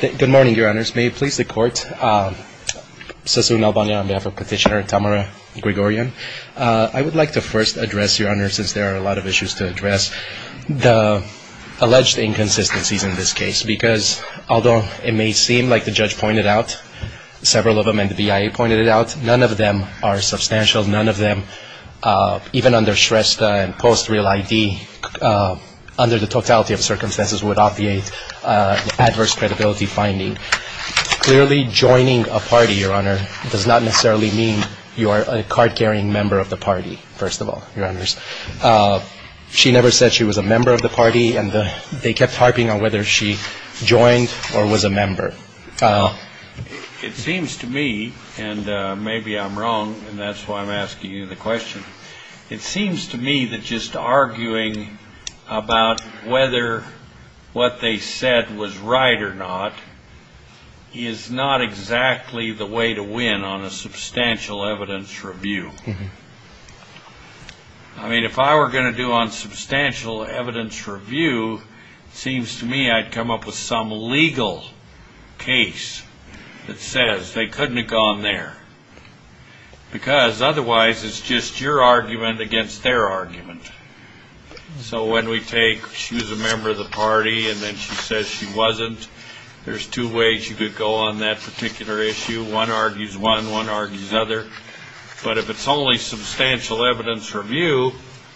Good morning, Your Honors. May it please the Court, Sassoon Albania on behalf of Petitioner Tamara Grigoryan, I would like to first address, Your Honor, since there are a lot of issues to address, the alleged inconsistencies in this case, because although it may seem like the judge pointed out several of them and the BIA pointed it out, none of them are substantial, none of them, even under Shrestha and post-real ID, under the totality of circumstances, would obviate the adverse credibility finding. Clearly, joining a party, Your Honor, does not necessarily mean you are a card-carrying member of the party, first of all, Your Honors. She never said she was a member of the party, and they kept harping on whether she joined or was a member. It seems to me, and maybe I'm wrong, and that's why I'm asking you the question, it seems to me that just arguing about whether what they said was right or not is not exactly the way to win on a substantial evidence review. I mean, if I were going to do on substantial evidence review, it seems to me I'd come up with some legal case that says they couldn't have gone there, because otherwise it's just your argument against their argument. So when we take she was a member of the party and then she says she wasn't, there's two ways you could go on that particular issue. One argues one, one argues the other. But if it's only substantial evidence review,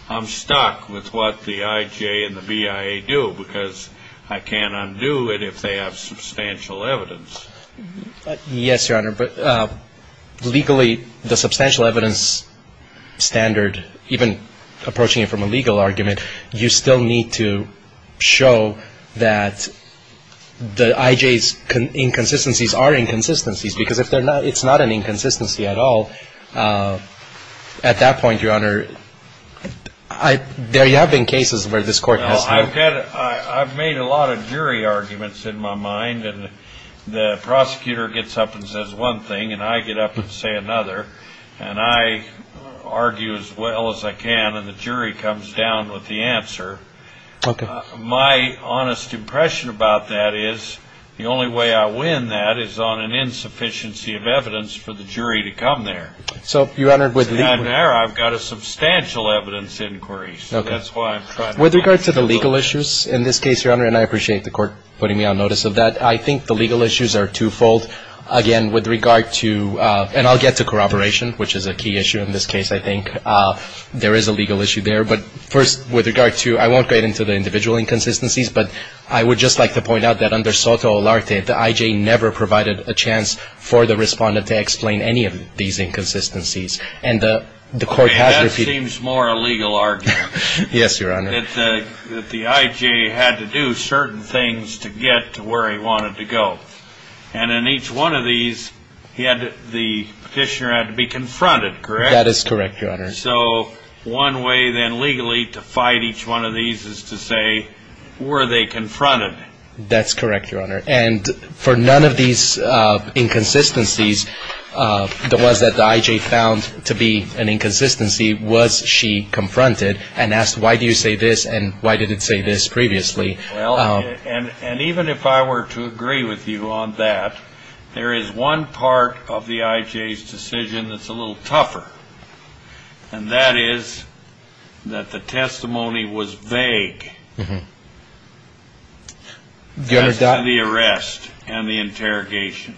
I'm stuck with what the IJ and the BIA do, because I can't undo it if they have substantial evidence. Yes, Your Honor, but legally, the substantial evidence standard, even approaching it from a legal argument, you still need to show that the IJ's inconsistencies are inconsistencies, because if they're not, it's not an inconsistency at all. At that point, Your Honor, there have been cases where this Court has to. I've made a lot of jury arguments in my mind, and the prosecutor gets up and says one thing, and I get up and say another, and I argue as well as I can, and the jury comes down with the answer. My honest impression about that is the only way I win that is on an insufficiency of evidence for the jury to come there. I've got a substantial evidence inquiry, so that's why I'm trying to. With regard to the legal issues in this case, Your Honor, and I appreciate the Court putting me on notice of that, I think the legal issues are twofold. Again, with regard to, and I'll get to corroboration, which is a key issue in this case, I think. There is a legal issue there. But first, with regard to, I won't get into the individual inconsistencies, but I would just like to point out that under SOTA Olarte, the IJ never provided a chance for the respondent to explain any of these inconsistencies. And the Court has. It seems more a legal argument. Yes, Your Honor. That the IJ had to do certain things to get to where he wanted to go. And in each one of these, the petitioner had to be confronted, correct? That is correct, Your Honor. So one way then legally to fight each one of these is to say, were they confronted? That's correct, Your Honor. And for none of these inconsistencies, the ones that the IJ found to be an inconsistency, was she confronted and asked, why do you say this and why did it say this previously? Well, and even if I were to agree with you on that, there is one part of the IJ's decision that's a little tougher. And that is that the testimony was vague. Uh-huh. As to the arrest and the interrogation.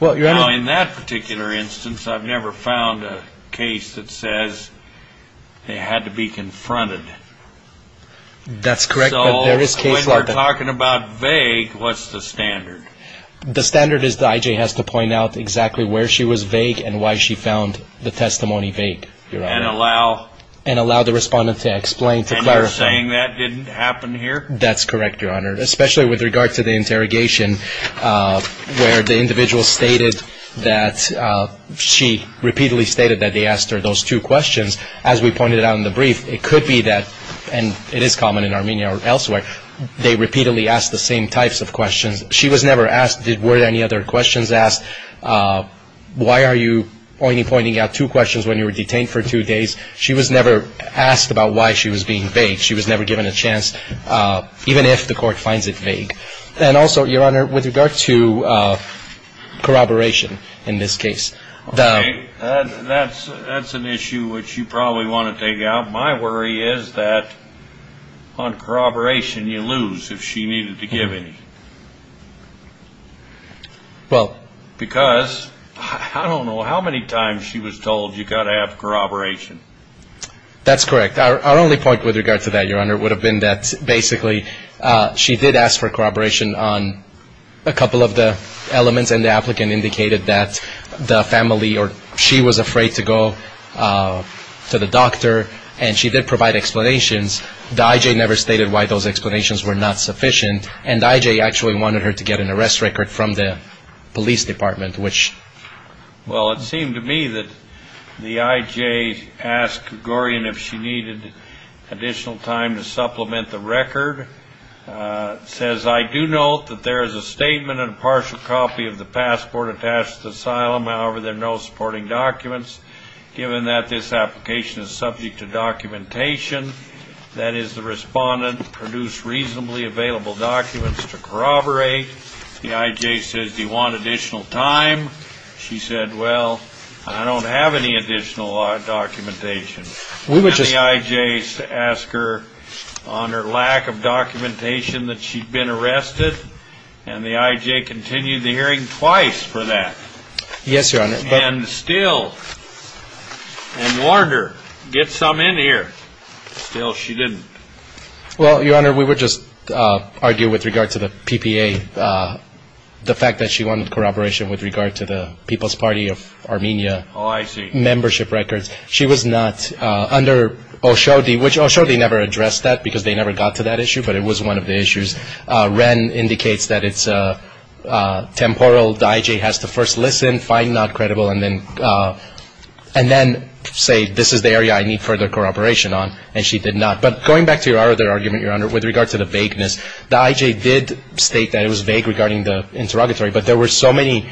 Well, Your Honor. Now in that particular instance, I've never found a case that says they had to be confronted. That's correct. So when you're talking about vague, what's the standard? The standard is the IJ has to point out exactly where she was vague and why she found the testimony vague, Your Honor. And allow... And allow the respondent to explain, to clarify. And you're saying that didn't happen here? That's correct, Your Honor. Especially with regard to the interrogation, where the individual stated that she repeatedly stated that they asked her those two questions. As we pointed out in the brief, it could be that, and it is common in Armenia or elsewhere, they repeatedly asked the same types of questions. She was never asked, were there any other questions asked? Why are you pointing out two questions when you were detained for two days? She was never asked about why she was being vague. She was never given a chance, even if the court finds it vague. And also, Your Honor, with regard to corroboration in this case, the... Okay. That's an issue which you probably want to take out. My worry is that on corroboration you lose if she needed to give any. Well... Because I don't know how many times she was told you've got to have corroboration. That's correct. Our only point with regard to that, Your Honor, would have been that basically she did ask for corroboration on a couple of the elements, and the applicant indicated that the family or she was afraid to go to the doctor, and she did provide explanations. The I.J. never stated why those explanations were not sufficient, and the I.J. actually wanted her to get an arrest record from the police department, which... additional time to supplement the record, says, I do note that there is a statement and a partial copy of the passport attached to the asylum. However, there are no supporting documents. Given that this application is subject to documentation, that is, the respondent produced reasonably available documents to corroborate. The I.J. says, Do you want additional time? She said, Well, I don't have any additional documentation. We would just... And the I.J. asked her on her lack of documentation that she'd been arrested, and the I.J. continued the hearing twice for that. Yes, Your Honor. And still, and warned her, Get some in here. Still, she didn't. Well, Your Honor, we would just argue with regard to the PPA, the fact that she wanted corroboration with regard to the People's Party of Armenia... Oh, I see. ...membership records. She was not under Oshodi, which Oshodi never addressed that because they never got to that issue, but it was one of the issues. Wren indicates that it's temporal. The I.J. has to first listen, find not credible, and then say, This is the area I need further corroboration on, and she did not. But going back to your other argument, Your Honor, with regard to the vagueness, the I.J. did state that it was vague regarding the interrogatory, but there were so many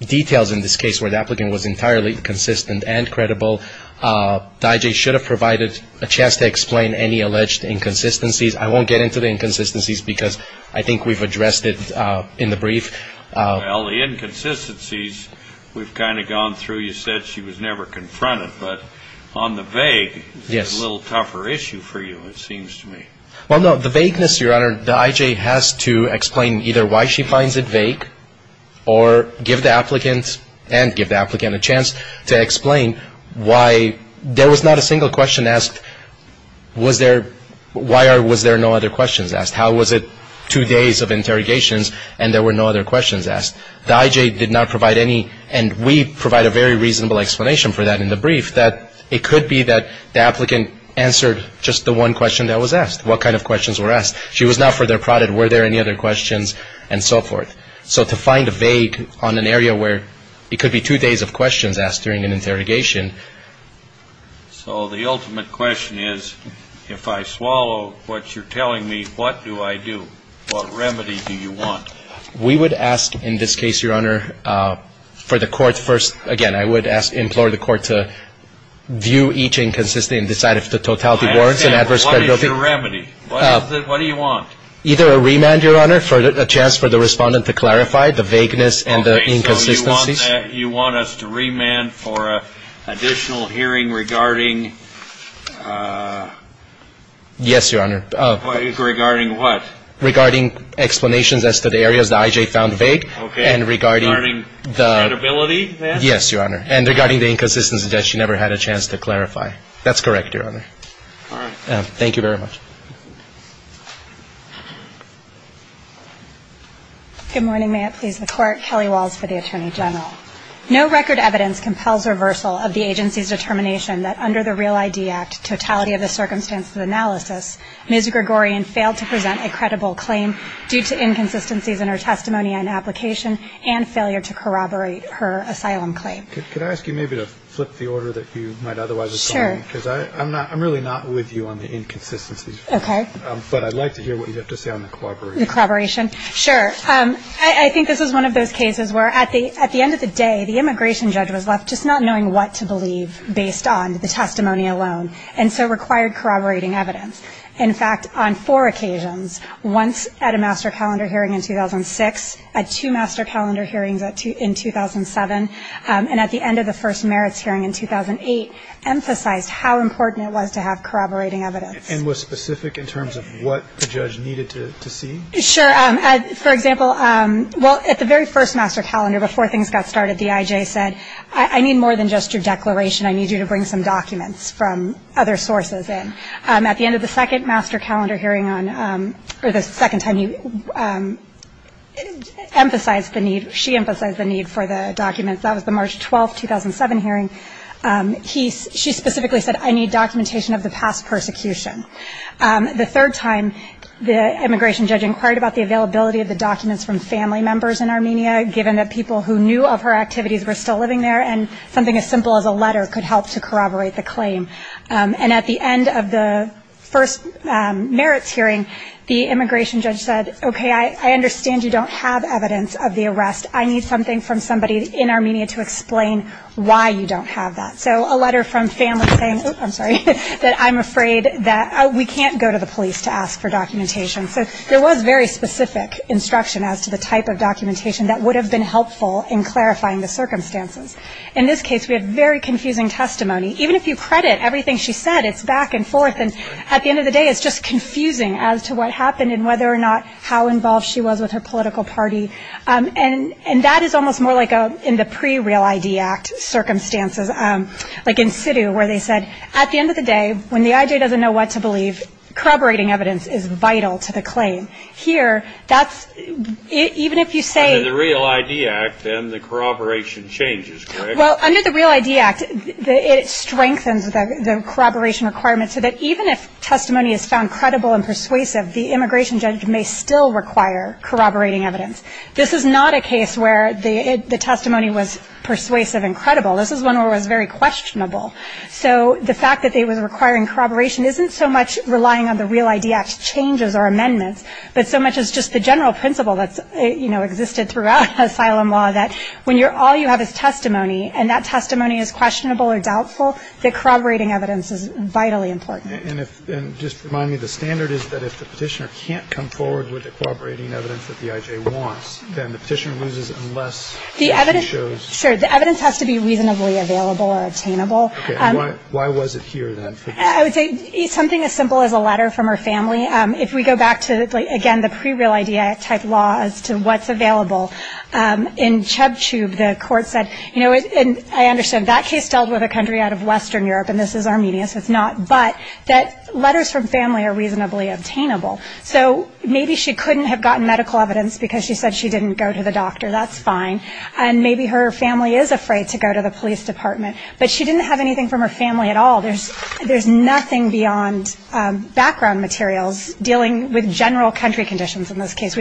details in this case where the applicant was entirely consistent and credible. The I.J. should have provided a chance to explain any alleged inconsistencies. I won't get into the inconsistencies because I think we've addressed it in the brief. Well, the inconsistencies we've kind of gone through. You said she was never confronted, but on the vague, it's a little tougher issue for you, it seems to me. Well, no, the vagueness, Your Honor, the I.J. has to explain either why she finds it vague or give the applicant and give the applicant a chance to explain why there was not a single question asked, was there, why was there no other questions asked? How was it two days of interrogations and there were no other questions asked? The I.J. did not provide any, and we provide a very reasonable explanation for that in the brief, that it could be that the applicant answered just the one question that was asked. What kind of questions were asked? She was not further prodded. Were there any other questions and so forth? So to find a vague on an area where it could be two days of questions asked during an interrogation. So the ultimate question is, if I swallow what you're telling me, what do I do? What remedy do you want? We would ask in this case, Your Honor, for the court first, again, I would implore the court to view each inconsistency and decide if the totality warrants an adverse credibility. What is your remedy? What do you want? Either a remand, Your Honor, for a chance for the respondent to clarify the vagueness and the inconsistencies. Okay. So you want us to remand for additional hearing regarding... Yes, Your Honor. Regarding what? Regarding explanations as to the areas the I.J. found vague. Okay. And regarding the... Credibility then? Yes, Your Honor. And regarding the inconsistencies that she never had a chance to clarify. That's correct, Your Honor. All right. Thank you very much. Good morning. May it please the Court. Kelly Walls for the Attorney General. No record evidence compels reversal of the agency's determination that under the Real ID Act, totality of the circumstances of analysis, Ms. Gregorian failed to present a credible claim due to inconsistencies in her testimony and application and failure to corroborate her asylum claim. Sure. I'm really not with you on the inconsistencies. Okay. But I'd like to hear what you have to say on the corroboration. The corroboration? Sure. I think this is one of those cases where at the end of the day, the immigration judge was left just not knowing what to believe based on the testimony alone and so required corroborating evidence. In fact, on four occasions, once at a master calendar hearing in 2006, at two master calendar hearings in 2007, and at the end of the first merits hearing in 2008, emphasized how important it was to have corroborating evidence. And was specific in terms of what the judge needed to see? Sure. For example, well, at the very first master calendar, before things got started, the IJ said, I need more than just your declaration. I need you to bring some documents from other sources in. At the end of the second master calendar hearing, or the second time you emphasized the need, she emphasized the need for the documents. That was the March 12, 2007 hearing. She specifically said, I need documentation of the past persecution. The third time, the immigration judge inquired about the availability of the documents from family members in Armenia, given that people who knew of her activities were still living there, and something as simple as a letter could help to corroborate the claim. And at the end of the first merits hearing, the immigration judge said, okay, I understand you don't have evidence of the arrest. I need something from somebody in Armenia to explain why you don't have that. So a letter from family saying, I'm sorry, that I'm afraid that we can't go to the police to ask for documentation. So there was very specific instruction as to the type of documentation that would have been helpful in clarifying the circumstances. In this case, we have very confusing testimony. Even if you credit everything she said, it's back and forth. And at the end of the day, it's just confusing as to what happened and whether or not how involved she was with her political party. And that is almost more like in the pre-Real ID Act circumstances, like in Sidhu, where they said, at the end of the day, when the I.J. doesn't know what to believe, corroborating evidence is vital to the claim. Here, that's – even if you say – Under the Real ID Act, then the corroboration changes, correct? Well, under the Real ID Act, it strengthens the corroboration requirements so that even if testimony is found credible and persuasive, the immigration judge may still require corroborating evidence. This is not a case where the testimony was persuasive and credible. This is one where it was very questionable. So the fact that it was requiring corroboration isn't so much relying on the Real ID Act's changes or amendments, but so much as just the general principle that's existed throughout asylum law that when all you have is testimony, and that testimony is questionable or doubtful, the corroborating evidence is vitally important. And if – and just remind me, the standard is that if the Petitioner can't come forward with the corroborating evidence that the I.J. wants, then the Petitioner loses unless the I.J. shows – The evidence – sure. The evidence has to be reasonably available or attainable. Okay. Why was it here, then? I would say something as simple as a letter from her family. If we go back to, again, the pre-Real ID Act-type law as to what's available, in Chubhchub, the Court said – you know, and I understand, that case dealt with a country out of Western Europe, and this is Armenia, so it's not – but that letters from family are reasonably obtainable. So maybe she couldn't have gotten medical evidence because she said she didn't go to the doctor. That's fine. And maybe her family is afraid to go to the police department. But she didn't have anything from her family at all. There's nothing beyond background materials dealing with general country conditions in this case.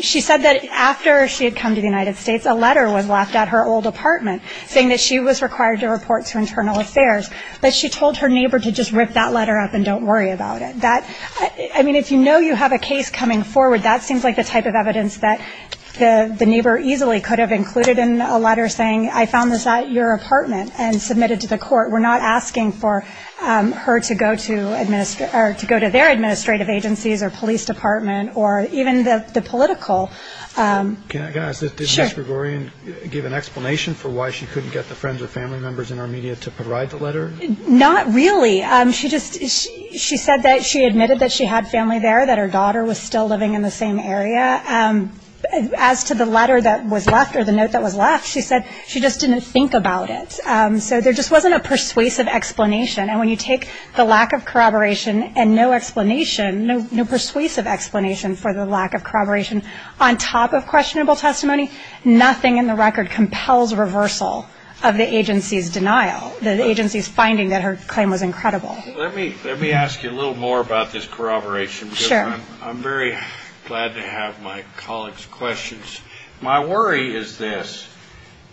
She said that after she had come to the United States, a letter was left at her old apartment saying that she was required to report to Internal Affairs. But she told her neighbor to just rip that letter up and don't worry about it. That – I mean, if you know you have a case coming forward, that seems like the type of evidence that the neighbor easily could have included in a letter saying, I found this at your apartment and submitted to the court. We're not asking for her to go to their administrative agencies or police department or even the political – Can I ask, did Ms. Gregorian give an explanation for why she couldn't get the friends or family members in our media to provide the letter? Not really. She just – she said that she admitted that she had family there, that her daughter was still living in the same area. As to the letter that was left or the note that was left, she said she just didn't think about it. So there just wasn't a persuasive explanation. And when you take the lack of corroboration and no explanation, no persuasive explanation for the lack of corroboration on top of questionable testimony, nothing in the record compels reversal of the agency's denial, the agency's finding that her claim was incredible. Let me ask you a little more about this corroboration. Sure. I'm very glad to have my colleagues' questions. My worry is this.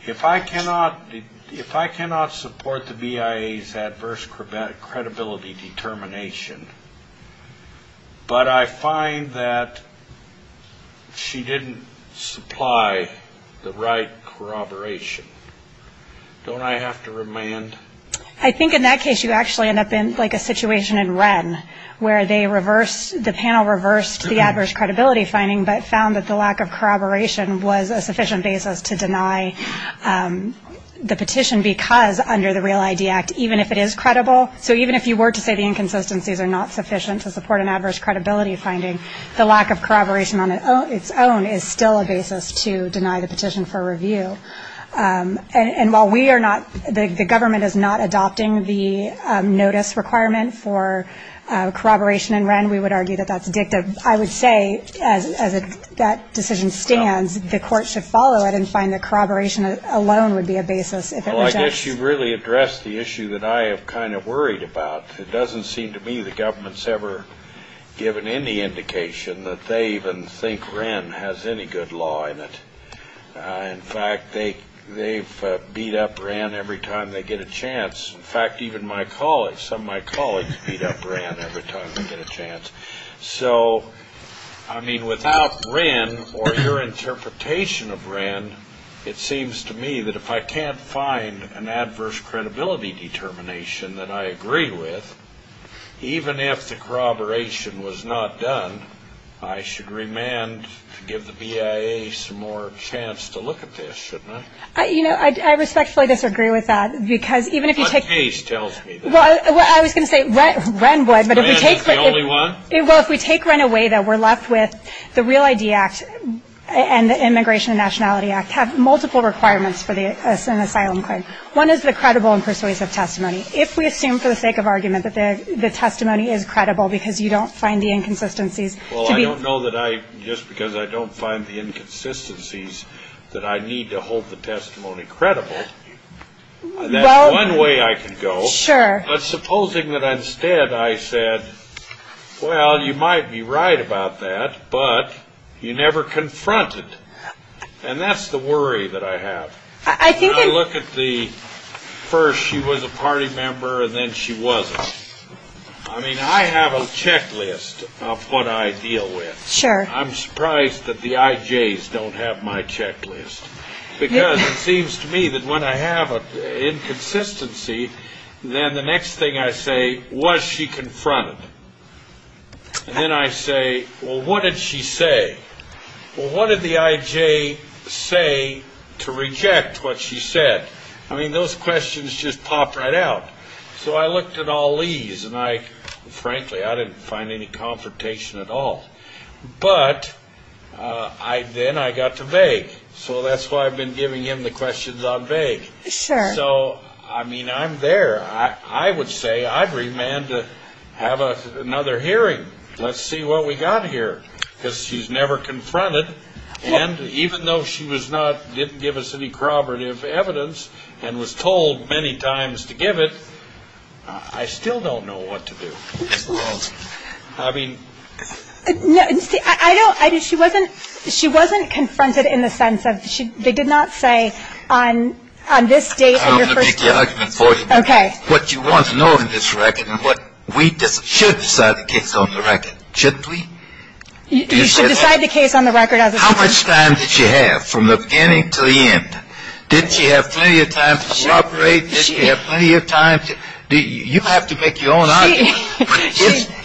If I cannot support the BIA's adverse credibility determination, but I find that she didn't supply the right corroboration, don't I have to remand? I think in that case you actually end up in like a situation in Wren where they reversed – the panel reversed the adverse credibility finding but found that the lack of corroboration was a sufficient basis to deny the petition because under the Real ID Act, even if it is credible, so even if you were to say the inconsistencies are not sufficient to support an adverse credibility finding, the lack of corroboration on its own is still a basis to deny the petition for review. And while we are not – the government is not adopting the notice requirement for corroboration in Wren, we would argue that that's addictive. I would say as that decision stands, the court should follow it and find that corroboration alone would be a basis if it rejects. Well, I guess you've really addressed the issue that I have kind of worried about. It doesn't seem to me the government's ever given any indication that they even think Wren has any good law in it. In fact, they've beat up Wren every time they get a chance. In fact, even my colleagues, some of my colleagues beat up Wren every time they get a chance. So, I mean, without Wren or your interpretation of Wren, it seems to me that if I can't find an adverse credibility determination that I agree with, even if the corroboration was not done, I should remand to give the BIA some more chance to look at this, shouldn't I? You know, I respectfully disagree with that because even if you take – What case tells me that? Well, I was going to say Wren would, but if we take – Well, if we take Wren away, then we're left with the Real ID Act and the Immigration and Nationality Act have multiple requirements for an asylum claim. One is the credible and persuasive testimony. If we assume for the sake of argument that the testimony is credible because you don't find the inconsistencies to be – Well, I don't know that I – just because I don't find the inconsistencies that I need to hold the testimony credible, that's one way I can go. Sure. But supposing that instead I said, well, you might be right about that, but you never confronted. And that's the worry that I have. I think that – I look at the first she was a party member and then she wasn't. I mean, I have a checklist of what I deal with. Sure. I'm surprised that the IJs don't have my checklist because it seems to me that when I have an inconsistency, then the next thing I say, was she confronted? And then I say, well, what did she say? Well, what did the IJ say to reject what she said? I mean, those questions just pop right out. So I looked at all these, and I – frankly, I didn't find any confrontation at all. But then I got to vague. So that's why I've been giving him the questions on vague. Sure. So, I mean, I'm there. I would say, I'd remand to have another hearing. Let's see what we got here. Because she's never confronted. And even though she was not – didn't give us any corroborative evidence and was told many times to give it, I still don't know what to do. I mean – No, I don't – she wasn't confronted in the sense of – I'm going to make the argument for you. Okay. What you want to know in this record and what we should decide the case on the record. Shouldn't we? You should decide the case on the record as it stands. How much time did she have from the beginning to the end? Did she have plenty of time to corroborate? Did she have plenty of time to – you have to make your own argument.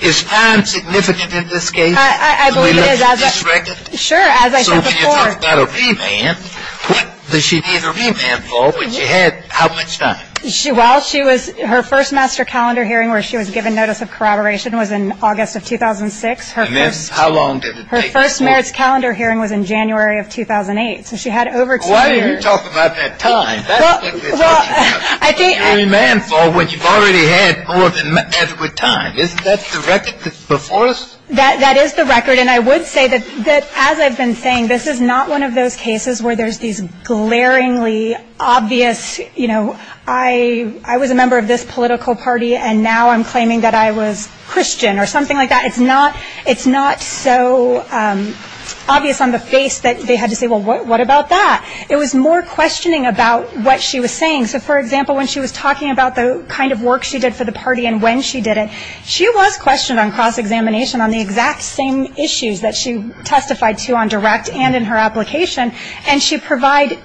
Is time significant in this case? I believe it is. Can we look at this record? Sure, as I said before. When you're talking about a remand, what does she need a remand for? When she had how much time? While she was – her first master calendar hearing where she was given notice of corroboration was in August of 2006. And then how long did it take? Her first merits calendar hearing was in January of 2008. So she had over – Why are you talking about that time? That's what we're talking about. I think – A remand for when you've already had more than adequate time. Isn't that the record that's before us? That is the record. And I would say that, as I've been saying, this is not one of those cases where there's these glaringly obvious, you know, I was a member of this political party and now I'm claiming that I was Christian or something like that. It's not so obvious on the face that they had to say, well, what about that? It was more questioning about what she was saying. So, for example, when she was talking about the kind of work she did for the party and when she did it, she was questioned on cross-examination on the exact same issues that she testified to on direct and in her application, and she provided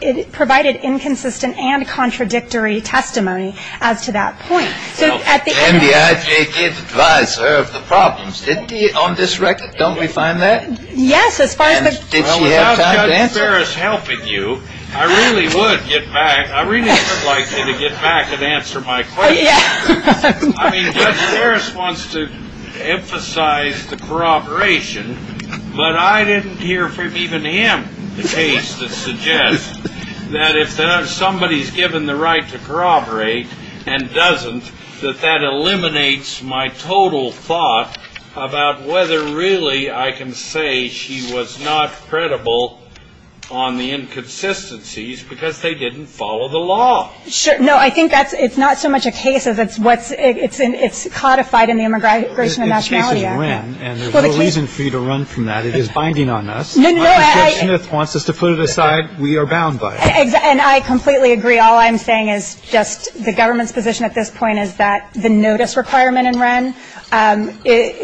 inconsistent and contradictory testimony as to that point. So at the end – Well, MBIJ did advise her of the problems, didn't they, on this record? Don't we find that? Yes, as far as the – And did she have time to answer? Well, without Judge Ferris helping you, I really would get back – I really would like you to get back and answer my questions. I mean, Judge Ferris wants to emphasize the corroboration, but I didn't hear from even him the case that suggests that if somebody's given the right to corroborate and doesn't, that that eliminates my total thought about whether really I can say she was not credible on the inconsistencies because they didn't follow the law. Sure. No, I think that's – it's not so much a case as it's what's – it's codified in the Immigration and Nationality Act. Well, the case is Wren, and there's no reason for you to run from that. It is binding on us. No, no, no, I – Judge Smith wants us to put it aside. We are bound by it. And I completely agree. All I'm saying is just the government's position at this point is that the notice requirement in Wren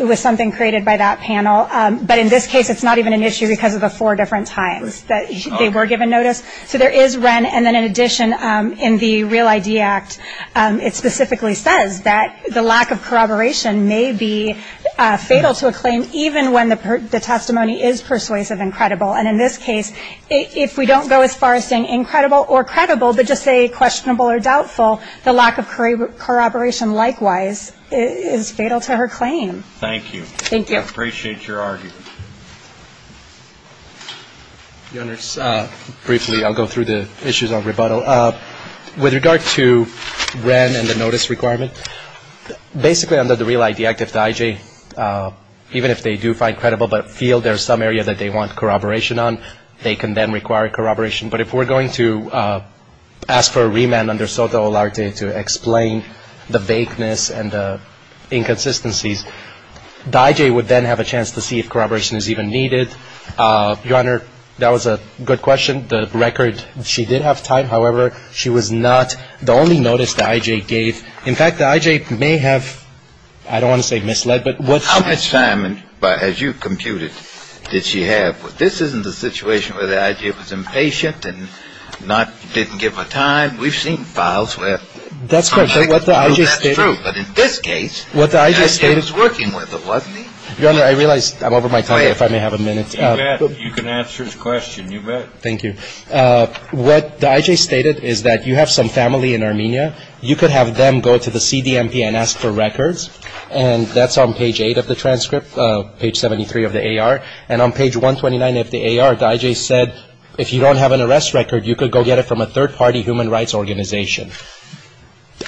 was something created by that panel. But in this case, it's not even an issue because of the four different times that they were given notice. So there is Wren. And then in addition, in the Real ID Act, it specifically says that the lack of corroboration may be fatal to a claim, even when the testimony is persuasive and credible. And in this case, if we don't go as far as saying incredible or credible, but just say questionable or doubtful, the lack of corroboration likewise is fatal to her claim. Thank you. Thank you. I appreciate your argument. Your Honors, briefly, I'll go through the issues of rebuttal. With regard to Wren and the notice requirement, basically under the Real ID Act, if the IJ, even if they do find credible but feel there's some area that they want corroboration on, they can then require corroboration. But if we're going to ask for a remand under SOTA Olarte to explain the vagueness and the inconsistencies, the IJ would then have a chance to see if corroboration is even needed. Your Honor, that was a good question. The record, she did have time. However, she was not the only notice the IJ gave. In fact, the IJ may have, I don't want to say misled, but what she had. How much time, as you computed, did she have? This isn't a situation where the IJ was impatient and didn't give her time. We've seen files where... That's correct. That's true. But in this case... What the IJ stated... The IJ was working with her, wasn't he? Your Honor, I realize I'm over my time, if I may have a minute. You can answer his question, you bet. Thank you. What the IJ stated is that you have some family in Armenia. You could have them go to the CDMP and ask for records. And that's on page 8 of the transcript, page 73 of the AR. And on page 129 of the AR, the IJ said if you don't have an arrest record, you could go get it from a third-party human rights organization.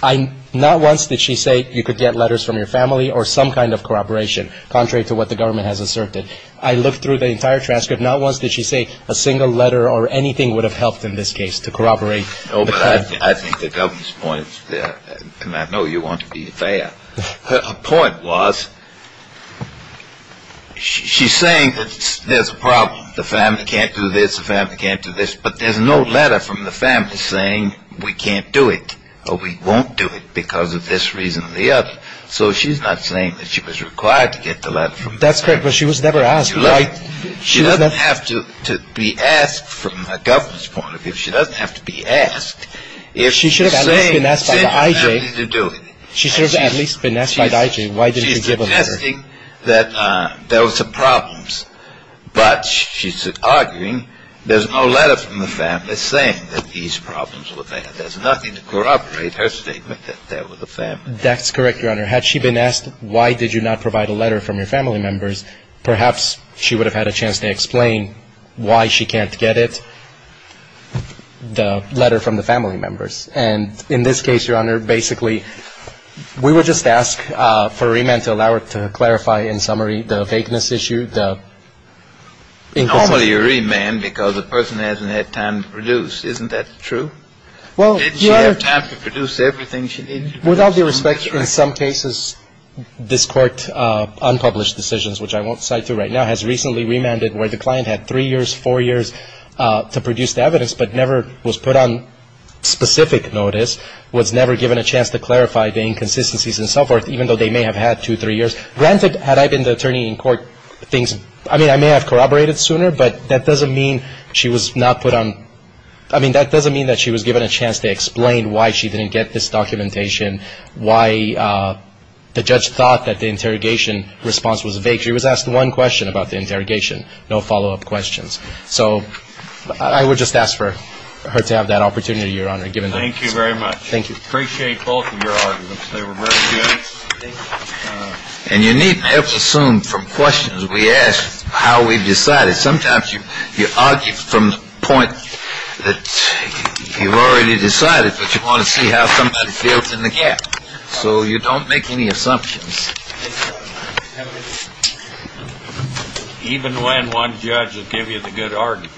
Not once did she say you could get letters from your family or some kind of corroboration, contrary to what the government has asserted. I looked through the entire transcript. Not once did she say a single letter or anything would have helped in this case to corroborate. No, but I think the government's point is there. And I know you want to be fair. Her point was she's saying that there's a problem. The family can't do this. The family can't do this. But there's no letter from the family saying we can't do it or we won't do it because of this reason or the other. So she's not saying that she was required to get the letter from the family. That's correct, but she was never asked. She doesn't have to be asked from the government's point of view. She doesn't have to be asked. She should have at least been asked by the IJ. She should have at least been asked by the IJ. Why didn't she give a letter? She's saying that there was some problems, but she's arguing there's no letter from the family saying that these problems were there. There's nothing to corroborate her statement that there was a family. That's correct, Your Honor. Had she been asked why did you not provide a letter from your family members, perhaps she would have had a chance to explain why she can't get it, the letter from the family members. And in this case, Your Honor, basically we would just ask for remand to allow her to clarify in summary the vagueness issue, the inconsistencies. Normally you remand because the person hasn't had time to produce. Isn't that true? Well, Your Honor. Didn't she have time to produce everything she needed to produce? Without the respect in some cases, this Court unpublished decisions, which I won't cite to right now, has recently remanded where the client had three years, four years to produce the evidence, but never was put on specific notice, was never given a chance to clarify the inconsistencies and so forth, even though they may have had two, three years. Granted, had I been the attorney in court, I may have corroborated sooner, but that doesn't mean she was given a chance to explain why she didn't get this documentation, why the judge thought that the interrogation response was vague. She was asked one question about the interrogation, no follow-up questions. So I would just ask for her to have that opportunity, Your Honor, given that. Thank you very much. Thank you. Appreciate both of your arguments. They were very good. And you needn't ever assume from questions we ask how we've decided. Sometimes you argue from the point that you've already decided, but you want to see how somebody fills in the gap. So you don't make any assumptions. Even when one judge will give you the good argument. No.